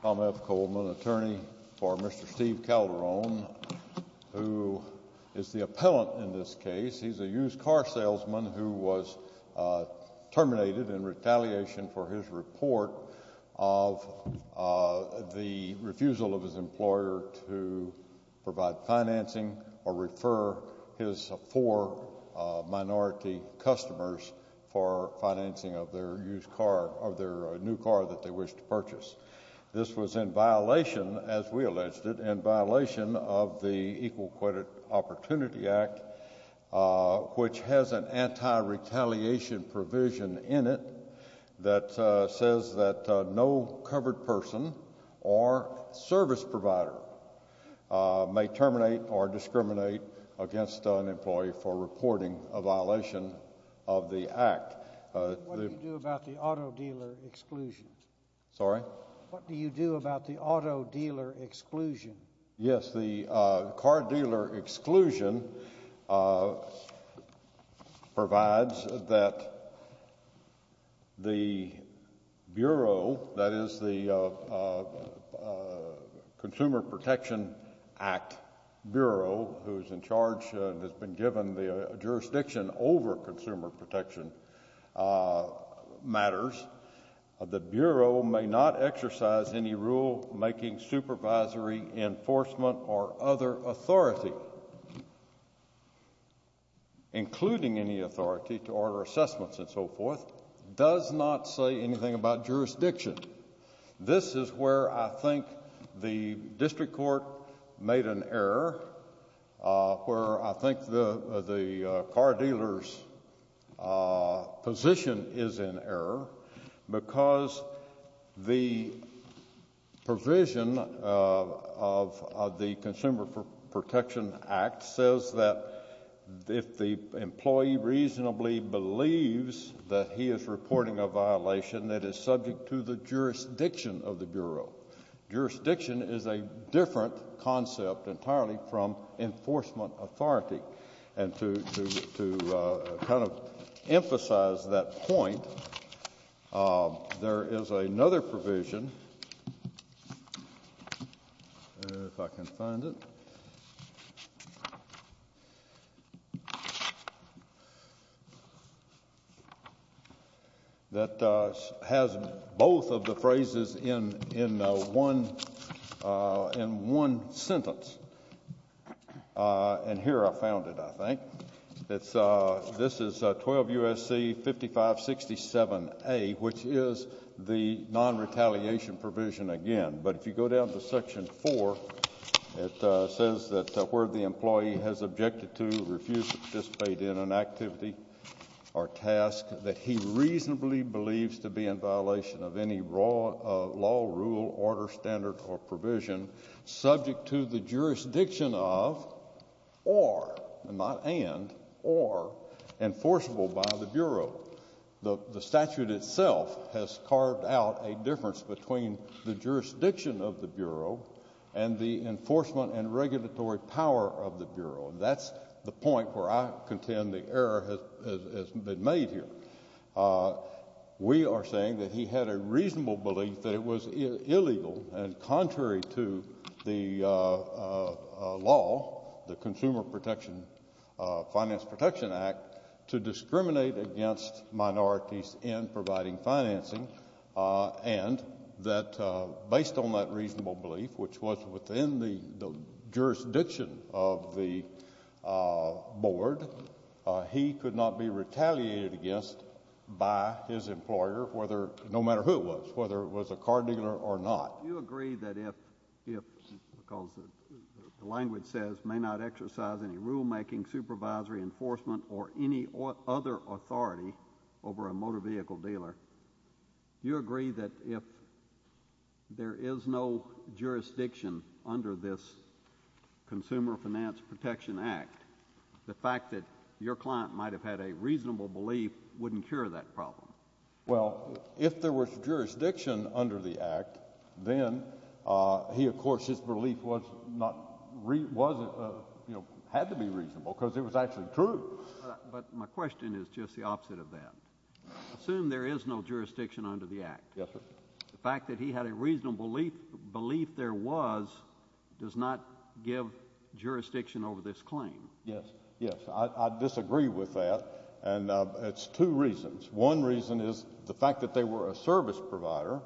Tom F. Coleman, attorney for Mr. Steve Calderone, who is the appellant in this case. He's a used car salesman who was terminated in retaliation for his report of the refusal of his employer to provide financing or refer his four minority customers for financing of their new car that they wish to purchase. This was in violation, as we alleged it, in violation of the Equal Credit Opportunity Act, which has an anti-retaliation provision in it that says that no covered person or service provider may terminate or discriminate against an employee for reporting a violation of the Act. What do you do about the auto dealer exclusion? Sorry? What do you do about the auto dealer exclusion? Yes, the car dealer exclusion provides that the Bureau, that is, the Consumer Protection Act Bureau, who is in charge and has been given the jurisdiction over consumer protection matters, the Bureau may not exercise any rule-making, supervisory, enforcement, or other authority, including any authority to order assessments and so forth, does not say anything about jurisdiction. This is where I think the district court made an error, where I think the car dealer's position is in error, because the provision of the Consumer Protection Act says that if the employee reasonably believes that he is reporting a violation, it is subject to the jurisdiction of the Bureau. Jurisdiction is a different concept entirely from enforcement authority. And to kind of emphasize that point, there is another provision, if I can find it, that has both of the phrases in one sentence. And here I found it, I think. This is 12 U.S.C. 5567A, which is the non-retaliation provision again. But if you go down to Section 4, it says that where the employee has objected to, refused to participate in an activity or task that he reasonably believes to be in violation of any law, rule, order, standard, or provision subject to the jurisdiction of, or, not and, or, enforceable by the Bureau. The statute itself has carved out a difference between the jurisdiction of the Bureau and the enforcement and regulatory power of the Bureau. And that's the point where I contend the error has been made here. We are saying that he had a reasonable belief that it was illegal and contrary to the law, the Consumer Protection, Finance Protection Act, to discriminate against minorities in providing financing. And that based on that reasonable belief, which was within the jurisdiction of the Board, he could not be retaliated against by his employer, no matter who it was, whether it was a car dealer or not. Do you agree that if, because the language says, may not exercise any rulemaking, supervisory, enforcement, or any other authority over a motor vehicle dealer, do you agree that if there is no jurisdiction under this Consumer Finance Protection Act, the fact that your client might have had a reasonable belief wouldn't cure that problem? Well, if there was jurisdiction under the Act, then he, of course, his belief was not, was, you know, had to be reasonable because it was actually true. But my question is just the opposite of that. Assume there is no jurisdiction under the Act. Yes, sir. The fact that he had a reasonable belief there was does not give jurisdiction over this claim. Yes. Yes. I disagree with that, and it's two reasons. One reason is the fact that they were a service provider,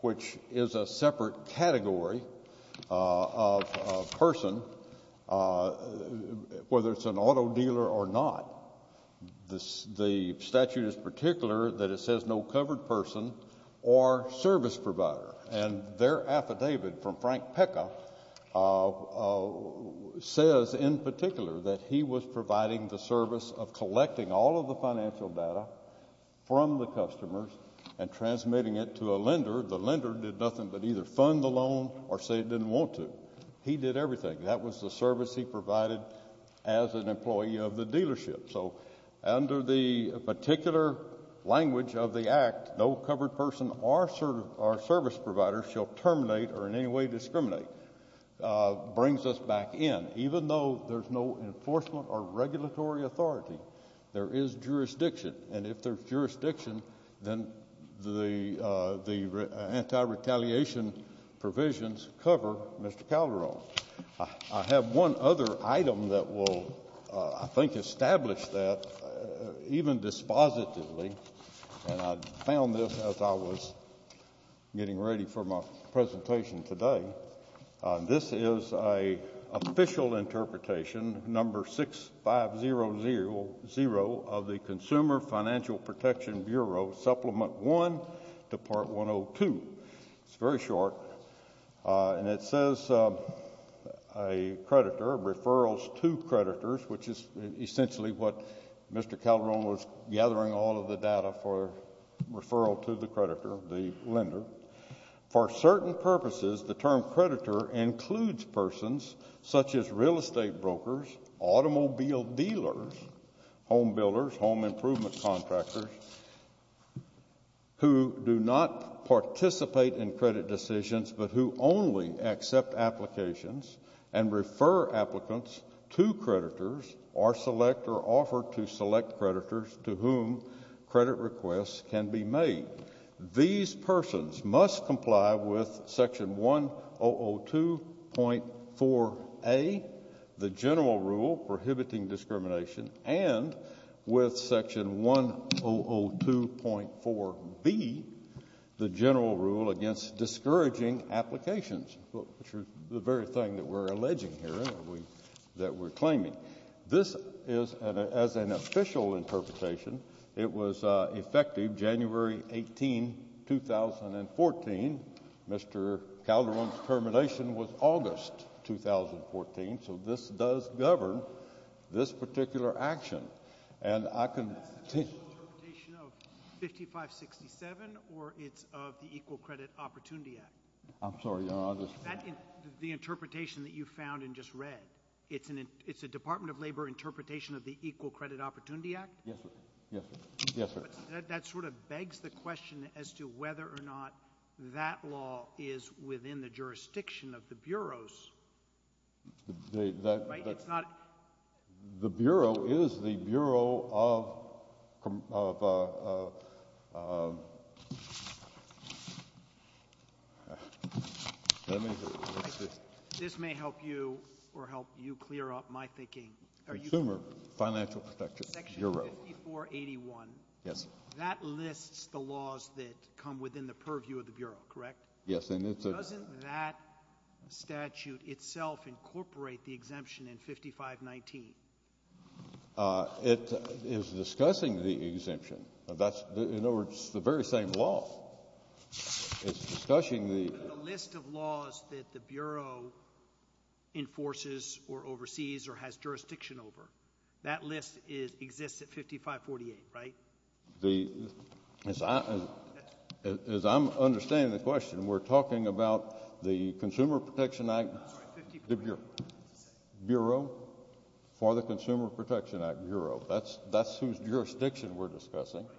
which is a separate category of person, whether it's an auto dealer or not. The statute is particular that it says no covered person or service provider, and their affidavit from Frank Pecka says in particular that he was providing the service of collecting all of the financial data from the customers and transmitting it to a lender. The lender did nothing but either fund the loan or say it didn't want to. He did everything. That was the service he provided as an employee of the dealership. So under the particular language of the Act, no covered person or service provider shall terminate or in any way discriminate, brings us back in, even though there's no enforcement or regulatory authority. There is jurisdiction, and if there's jurisdiction, then the anti-retaliation provisions cover Mr. Calderon. I have one other item that will, I think, establish that even dispositively, and I found this as I was getting ready for my presentation today. This is an official interpretation, number 6500 of the Consumer Financial Protection Bureau Supplement 1 to Part 102. It's very short. And it says a creditor, referrals to creditors, which is essentially what Mr. Calderon was gathering all of the data for, referral to the creditor, the lender. For certain purposes, the term creditor includes persons such as real estate brokers, automobile dealers, home builders, home improvement contractors, who do not participate in credit decisions but who only accept applications and refer applicants to creditors or select or offer to select creditors to whom credit requests can be made. These persons must comply with Section 1002.4a, the general rule prohibiting discrimination, and with Section 1002.4b, the general rule against discouraging applications, which is the very thing that we're alleging here, that we're claiming. This is, as an official interpretation, it was effective January 18, 2014. Mr. Calderon's termination was August 2014, so this does govern this particular action. And I can— Is that an official interpretation of 5567 or it's of the Equal Credit Opportunity Act? I'm sorry, Your Honor, I just— Is that the interpretation that you found and just read? It's a Department of Labor interpretation of the Equal Credit Opportunity Act? Yes, sir. Yes, sir. Yes, sir. That sort of begs the question as to whether or not that law is within the jurisdiction of the Bureau's— The— Right? It's not— The Bureau is the Bureau of— Let me— This may help you or help you clear up my thinking. Consumer Financial Protection Bureau. Section 5481. Yes. That lists the laws that come within the purview of the Bureau, correct? Yes, and it's— Doesn't that statute itself incorporate the exemption in 5519? It is discussing the exemption. That's—in other words, it's the very same law. It's discussing the— The list of laws that the Bureau enforces or oversees or has jurisdiction over, that list exists at 5548, right? The—as I'm understanding the question, we're talking about the Consumer Protection Act— I'm sorry, 55— The Bureau. Bureau for the Consumer Protection Act Bureau. That's whose jurisdiction we're discussing. Right.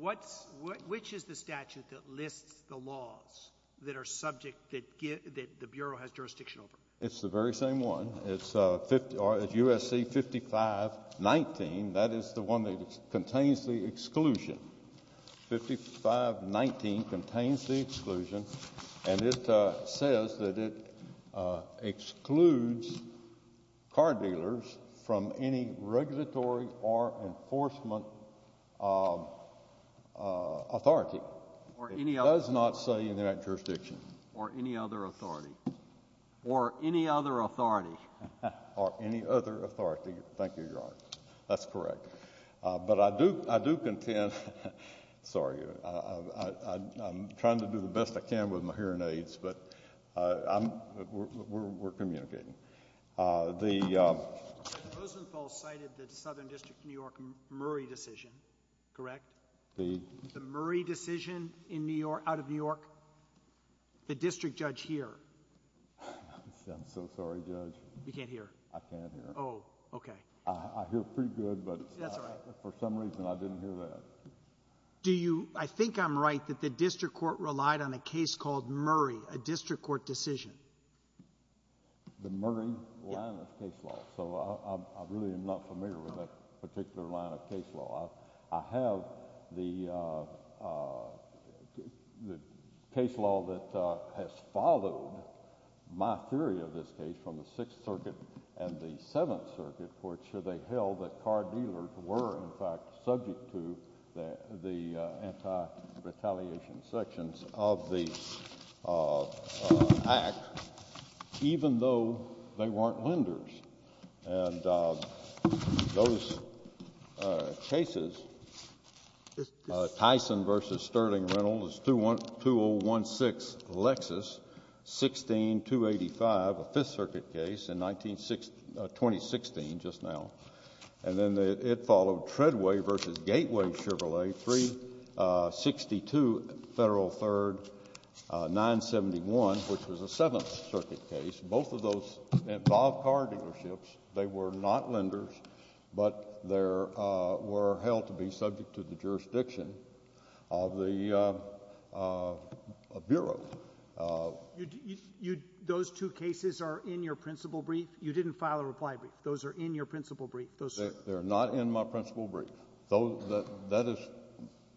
What's—which is the statute that lists the laws that are subject—that the Bureau has jurisdiction over? It's the very same one. It's 50—or it's U.S.C. 5519. That is the one that contains the exclusion. 5519 contains the exclusion, and it says that it excludes car dealers from any regulatory or enforcement authority. Or any other. It does not say in that jurisdiction. Or any other authority. Or any other authority. Or any other authority. Thank you, Your Honor. That's correct. But I do—I do contend—sorry, I'm trying to do the best I can with my hearing aids, but I'm—we're communicating. The— Mr. Rosenthal cited the Southern District of New York Murray decision, correct? The— The district judge here. I'm so sorry, Judge. You can't hear? I can't hear. Oh, okay. I hear pretty good, but— That's all right. For some reason, I didn't hear that. Do you—I think I'm right that the district court relied on a case called Murray, a district court decision. The Murray line of case law. So I really am not familiar with that particular line of case law. I have the case law that has followed my theory of this case from the Sixth Circuit and the Seventh Circuit, for which they held that car dealers were, in fact, subject to the anti-retaliation sections of the Act, even though they weren't lenders. And those cases, Tyson v. Sterling Reynolds, 201-6 Lexus, 16285, a Fifth Circuit case in 19—2016, just now. And then it followed Treadway v. Gateway Chevrolet, 362 Federal Third 971, which was a Seventh Circuit case. Both of those involved car dealerships. They were not lenders, but they were held to be subject to the jurisdiction of the Bureau. Those two cases are in your principal brief? You didn't file a reply brief. Those are in your principal brief. They're not in my principal brief.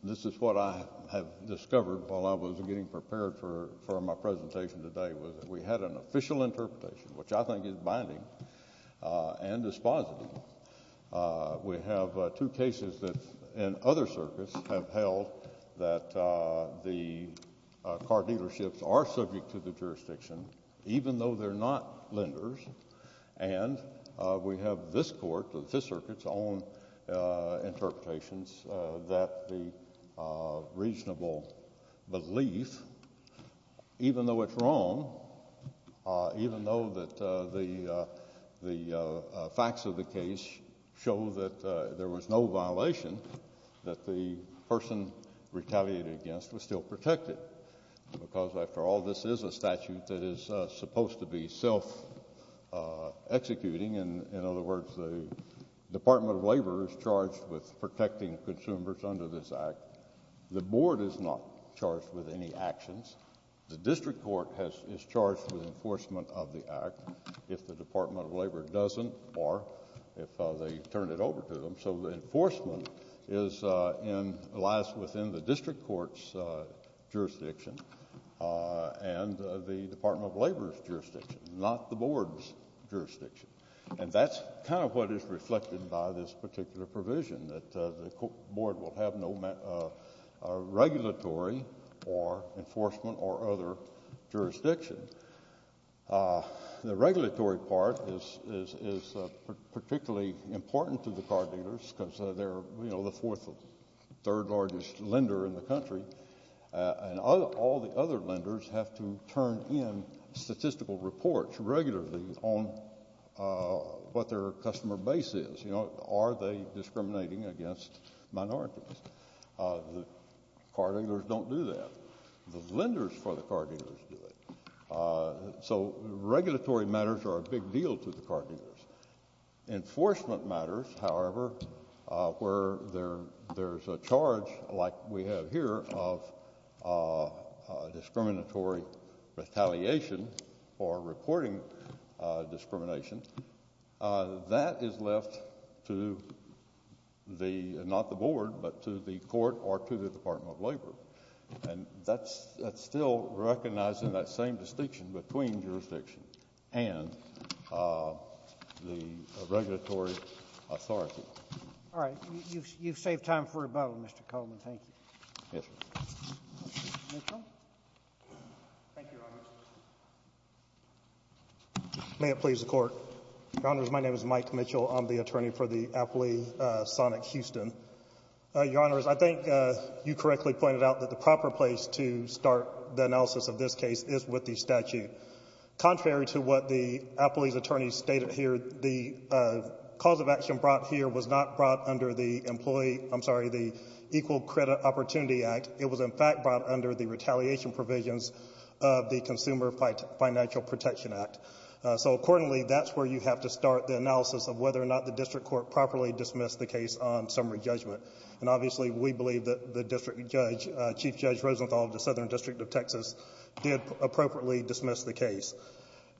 This is what I have discovered while I was getting prepared for my presentation today, was that we had an official interpretation, which I think is binding and dispositive. We have two cases that in other circuits have held that the car dealerships are subject to the jurisdiction, even though they're not lenders. And we have this Court, the Fifth Circuit's own interpretations, that the reasonable belief, even though it's wrong, even though that the facts of the case show that there was no violation, that the person retaliated against was still protected. Because, after all, this is a statute that is supposed to be self-executing. In other words, the Department of Labor is charged with protecting consumers under this Act. The Board is not charged with any actions. The District Court is charged with enforcement of the Act if the Department of Labor doesn't or if they turn it over to them. So the enforcement lies within the District Court's jurisdiction and the Department of Labor's jurisdiction, not the Board's jurisdiction. And that's kind of what is reflected by this particular provision, that the Board will have no regulatory or enforcement or other jurisdiction. The regulatory part is particularly important to the car dealers because they're the fourth or third largest lender in the country. And all the other lenders have to turn in statistical reports regularly on what their customer base is. Are they discriminating against minorities? The car dealers don't do that. The lenders for the car dealers do it. So regulatory matters are a big deal to the car dealers. Enforcement matters, however, where there's a charge like we have here of discriminatory retaliation or reporting discrimination, that is left to the—not the Board, but to the court or to the Department of Labor. And that's still recognized in that same distinction between jurisdiction and the regulatory authority. All right. You've saved time for rebuttal, Mr. Coleman. Thank you. Yes, sir. Mr. Mitchell? Thank you, Your Honors. May it please the Court. Your Honors, my name is Mike Mitchell. I'm the attorney for the Appley Sonic Houston. Your Honors, I think you correctly pointed out that the proper place to start the analysis of this case is with the statute. Contrary to what the Appley's attorneys stated here, the cause of action brought here was not brought under the Employee—I'm sorry, the Equal Credit Opportunity Act. It was, in fact, brought under the retaliation provisions of the Consumer Financial Protection Act. So accordingly, that's where you have to start the analysis of whether or not the district court properly dismissed the case on summary judgment. And obviously, we believe that the district judge, Chief Judge Rosenthal of the Southern District of Texas, did appropriately dismiss the case.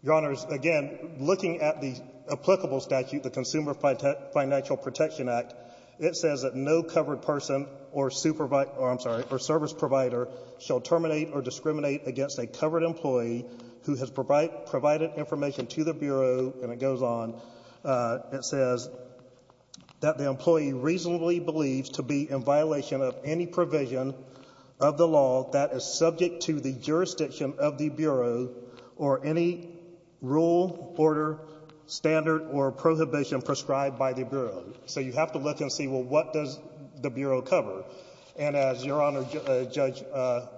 Your Honors, again, looking at the applicable statute, the Consumer Financial Protection Act, it says that no covered person or service provider shall terminate or discriminate against a covered employee who has provided information to the Bureau. And it goes on, it says that the employee reasonably believes to be in violation of any provision of the law that is subject to the jurisdiction of the Bureau or any rule, order, standard, or prohibition prescribed by the Bureau. So you have to look and see, well, what does the Bureau cover? And as Your Honor, Judge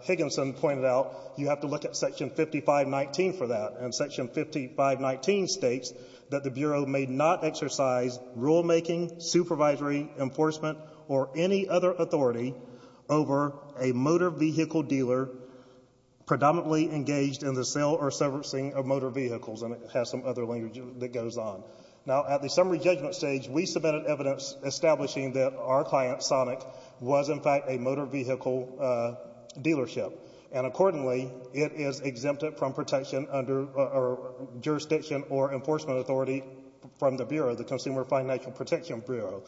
Higginson pointed out, you have to look at Section 5519 for that. And Section 5519 states that the Bureau may not exercise rulemaking, supervisory enforcement, or any other authority over a motor vehicle dealer predominantly engaged in the sale or servicing of motor vehicles. And it has some other language that goes on. Now, at the summary judgment stage, we submitted evidence establishing that our client, Sonic, was in fact a motor vehicle dealership. And accordingly, it is exempted from protection under jurisdiction or enforcement authority from the Bureau, the Consumer Financial Protection Bureau.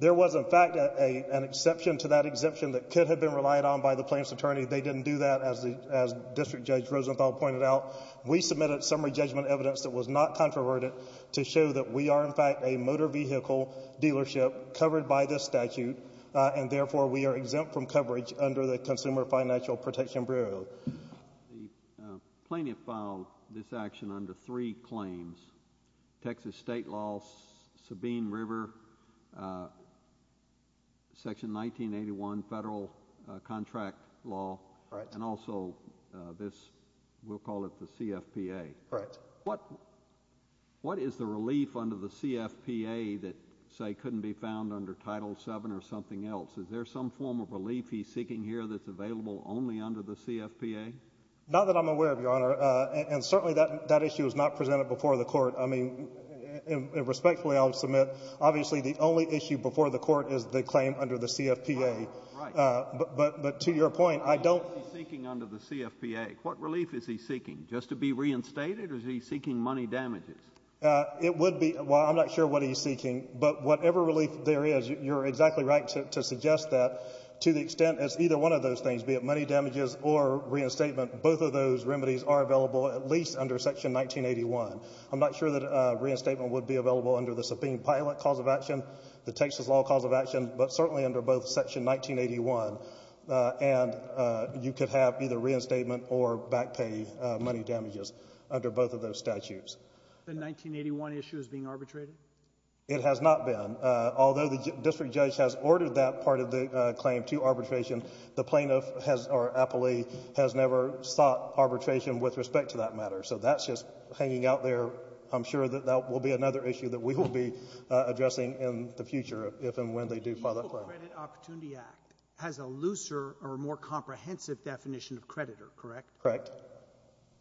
There was, in fact, an exception to that exemption that could have been relied on by the plaintiff's attorney. They didn't do that, as District Judge Rosenthal pointed out. We submitted summary judgment evidence that was not controverted to show that we are, in fact, a motor vehicle dealership covered by this statute. And, therefore, we are exempt from coverage under the Consumer Financial Protection Bureau. The plaintiff filed this action under three claims, Texas State Law, Sabine River, Section 1981 Federal Contract Law. Right. And also this, we'll call it the CFPA. Right. What is the relief under the CFPA that, say, couldn't be found under Title VII or something else? Is there some form of relief he's seeking here that's available only under the CFPA? Not that I'm aware of, Your Honor. And, certainly, that issue is not presented before the Court. I mean, respectfully, I'll submit, obviously, the only issue before the Court is the claim under the CFPA. Right. But, to your point, I don't— What is he seeking under the CFPA? What relief is he seeking? Just to be reinstated, or is he seeking money damages? It would be—well, I'm not sure what he's seeking. But whatever relief there is, you're exactly right to suggest that. To the extent it's either one of those things, be it money damages or reinstatement, both of those remedies are available at least under Section 1981. I'm not sure that reinstatement would be available under the subpoena pilot cause of action, the Texas law cause of action, but certainly under both Section 1981. And you could have either reinstatement or back pay money damages under both of those statutes. The 1981 issue is being arbitrated? It has not been. Although the district judge has ordered that part of the claim to arbitration, the plaintiff has—or appellee—has never sought arbitration with respect to that matter. So that's just hanging out there. I'm sure that that will be another issue that we will be addressing in the future if and when they do file that claim. The Equal Credit Opportunity Act has a looser or more comprehensive definition of creditor, correct? Correct.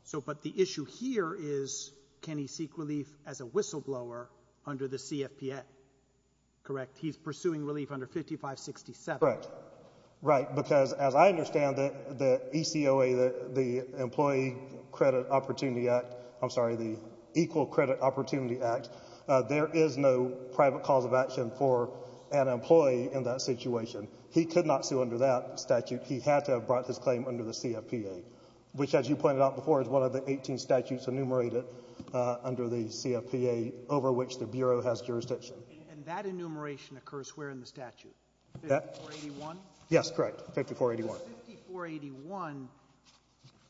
So—but the issue here is can he seek relief as a whistleblower under the CFPA, correct? He's pursuing relief under 5567. Correct. Right, because as I understand it, the ECOA, the Employee Credit Opportunity Act—I'm sorry, the Equal Credit Opportunity Act, there is no private cause of action for an employee in that situation. He could not sue under that statute. He had to have brought this claim under the CFPA, which, as you pointed out before, is one of the 18 statutes enumerated under the CFPA over which the Bureau has jurisdiction. And that enumeration occurs where in the statute? 5481? Yes, correct. 5481. Does 5481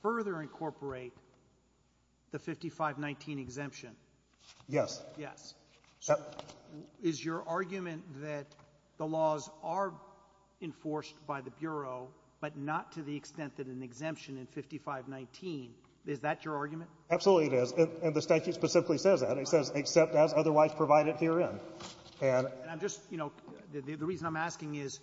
further incorporate the 5519 exemption? Yes. Yes. So is your argument that the laws are enforced by the Bureau but not to the extent that an exemption in 5519, is that your argument? Absolutely it is. And the statute specifically says that. It says, except as otherwise provided herein. And I'm just, you know, the reason I'm asking is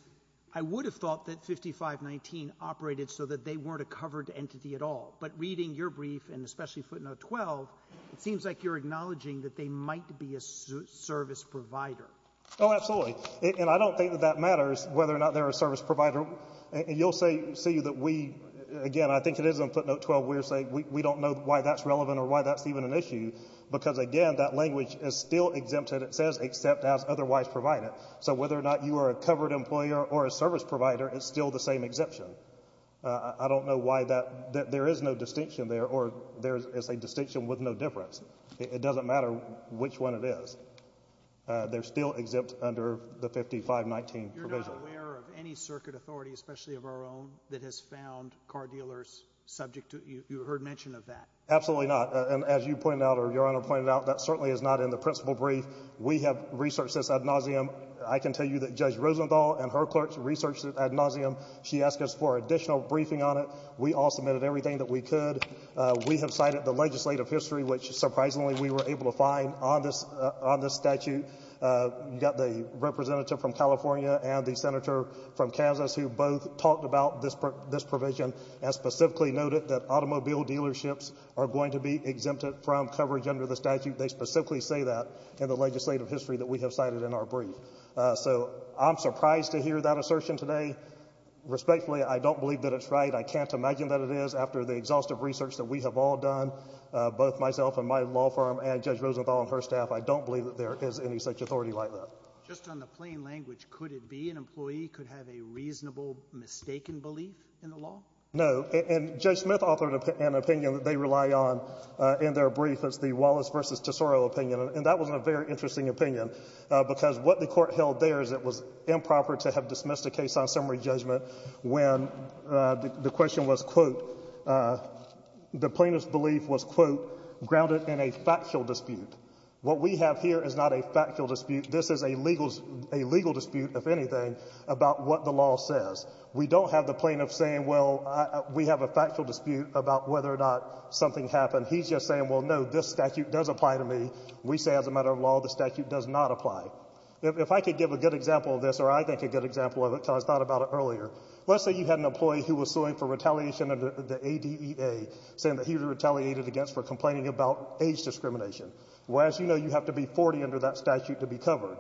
I would have thought that 5519 operated so that they weren't a covered entity at all. But reading your brief and especially footnote 12, it seems like you're acknowledging that they might be a service provider. Oh, absolutely. And I don't think that that matters whether or not they're a service provider. And you'll see that we, again, I think it is in footnote 12, we're saying we don't know why that's relevant or why that's even an issue. Because, again, that language is still exempted. It says except as otherwise provided. So whether or not you are a covered employer or a service provider, it's still the same exemption. I don't know why that, there is no distinction there or there is a distinction with no difference. It doesn't matter which one it is. They're still exempt under the 5519 provision. Are you aware of any circuit authority, especially of our own, that has found car dealers subject to, you heard mention of that? Absolutely not. And as you pointed out or Your Honor pointed out, that certainly is not in the principal brief. We have researched this ad nauseum. I can tell you that Judge Rosenthal and her clerks researched this ad nauseum. She asked us for additional briefing on it. We all submitted everything that we could. We have cited the legislative history, which surprisingly we were able to find on this statute. You got the representative from California and the senator from Kansas who both talked about this provision and specifically noted that automobile dealerships are going to be exempted from coverage under the statute. They specifically say that in the legislative history that we have cited in our brief. So I'm surprised to hear that assertion today. Respectfully, I don't believe that it's right. I can't imagine that it is after the exhaustive research that we have all done, both myself and my law firm and Judge Rosenthal and her staff. I don't believe that there is any such authority like that. Just on the plain language, could it be an employee could have a reasonable mistaken belief in the law? No. And Judge Smith authored an opinion that they rely on in their brief. It's the Wallace v. Tesoro opinion. And that was a very interesting opinion because what the court held there is it was improper to have dismissed a case on summary judgment when the question was, quote, the plaintiff's belief was, quote, grounded in a factual dispute. What we have here is not a factual dispute. This is a legal dispute, if anything, about what the law says. We don't have the plaintiff saying, well, we have a factual dispute about whether or not something happened. He's just saying, well, no, this statute does apply to me. We say as a matter of law, the statute does not apply. If I could give a good example of this, or I think a good example of it because I thought about it earlier, let's say you had an employee who was suing for retaliation under the ADEA, saying that he was retaliated against for complaining about age discrimination. Well, as you know, you have to be 40 under that statute to be covered.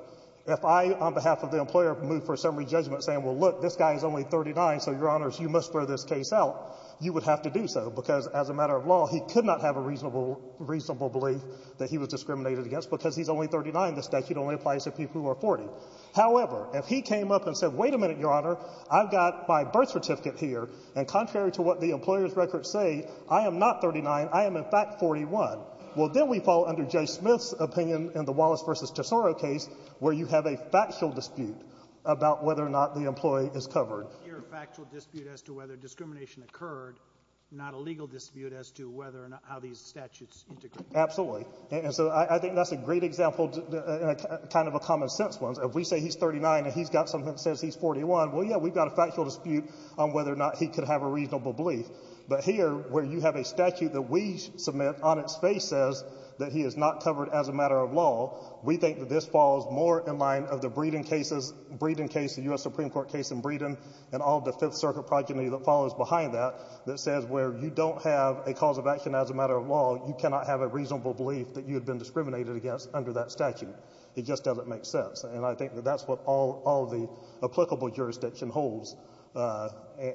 If I, on behalf of the employer, move for a summary judgment saying, well, look, this guy is only 39, so, Your Honors, you must throw this case out, you would have to do so because as a matter of law, he could not have a reasonable belief that he was discriminated against because he's only 39. The statute only applies to people who are 40. However, if he came up and said, wait a minute, Your Honor, I've got my birth certificate here, and contrary to what the employer's records say, I am not 39, I am in fact 41, well, then we fall under Judge Smith's opinion in the Wallace v. Tesoro case where you have a factual dispute about whether or not the employee is covered. You're a factual dispute as to whether discrimination occurred, not a legal dispute as to whether or not how these statutes integrate. Absolutely. And so I think that's a great example, kind of a common sense one. If we say he's 39 and he's got something that says he's 41, well, yeah, we've got a factual dispute on whether or not he could have a reasonable belief. But here, where you have a statute that we submit on its face says that he is not covered as a matter of law, we think that this falls more in line of the Breeden case, the U.S. Supreme Court case in Breeden, and all the Fifth Circuit progeny that follows behind that, that says where you don't have a cause of action as a matter of law, you cannot have a reasonable belief that you had been discriminated against under that statute. It just doesn't make sense. And I think that that's what all the applicable jurisdiction holds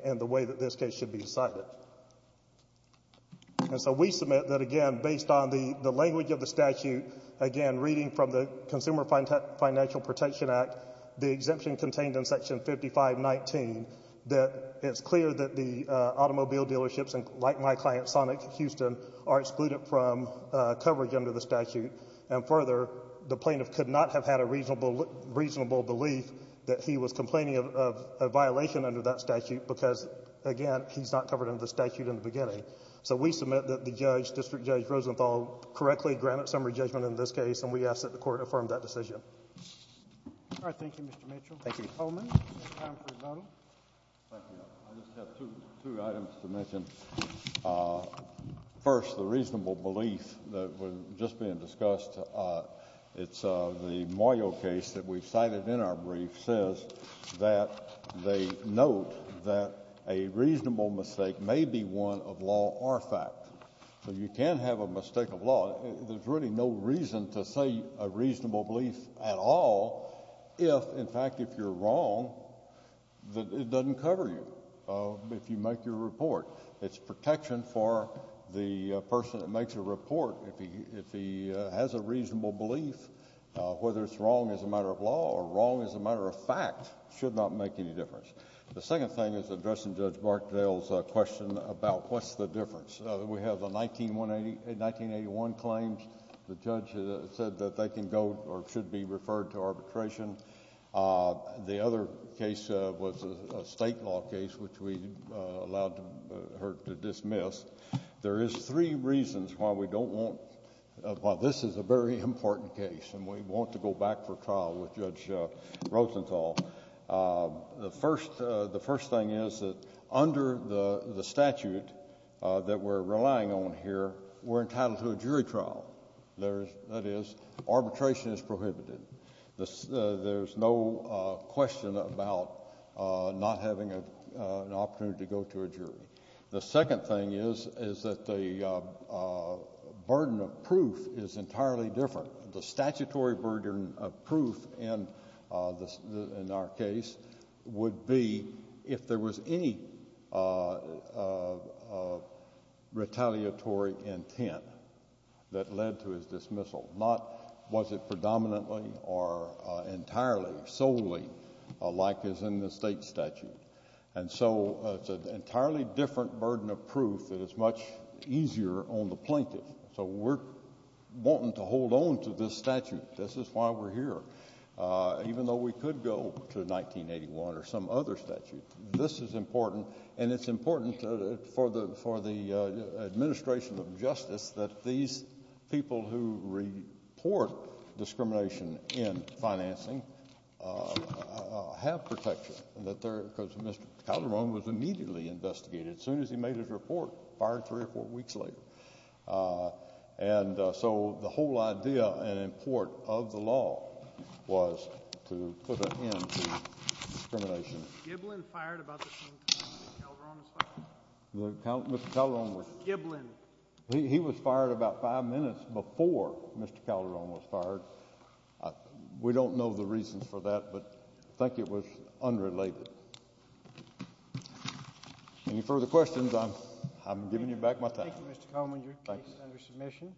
in the way that this case should be decided. And so we submit that, again, based on the language of the statute, again, reading from the Consumer Financial Protection Act, the exemption contained in Section 5519, that it's clear that the automobile dealerships, like my client, Sonic Houston, are excluded from coverage under the statute. And further, the plaintiff could not have had a reasonable belief that he was complaining of a violation under that statute because, again, he's not covered under the statute in the beginning. So we submit that the judge, District Judge Rosenthal, correctly granted summary judgment in this case, and we ask that the Court affirm that decision. Roberts. All right. Thank you, Mr. Mitchell. Thank you. Coleman, time for your vote. Thank you. I just have two items to mention. First, the reasonable belief that was just being discussed. It's the Moyo case that we cited in our brief says that they note that a reasonable mistake may be one of law or fact. So you can have a mistake of law. There's really no reason to say a reasonable belief at all if, in fact, if you're wrong, that it doesn't cover you if you make your report. It's protection for the person that makes a report. If he has a reasonable belief, whether it's wrong as a matter of law or wrong as a matter of fact should not make any difference. The second thing is addressing Judge Markdale's question about what's the difference. We have the 1981 claims. The judge said that they can go or should be referred to arbitration. The other case was a state law case, which we allowed her to dismiss. There is three reasons why we don't want, why this is a very important case, and we want to go back for trial with Judge Rosenthal. The first thing is that under the statute that we're relying on here, we're entitled to a jury trial. That is, arbitration is prohibited. There's no question about not having an opportunity to go to a jury. The second thing is, is that the burden of proof is entirely different. The statutory burden of proof in our case would be if there was any retaliatory intent that led to his dismissal. Not was it predominantly or entirely, solely, like is in the state statute. And so it's an entirely different burden of proof that is much easier on the plaintiff. So we're wanting to hold on to this statute. This is why we're here. Even though we could go to 1981 or some other statute, this is important. And it's important for the administration of justice that these people who report discrimination in financing have protection. Because Mr. Calderon was immediately investigated. As soon as he made his report, fired three or four weeks later. And so the whole idea and import of the law was to put an end to discrimination. Mr. Giblin fired about the same time that Calderon was fired. Mr. Calderon was... Mr. Giblin. He was fired about five minutes before Mr. Calderon was fired. We don't know the reasons for that, but I think it was unrelated. Any further questions, I'm giving you back my time. Thank you, Mr. Coleman. Your case is under submission.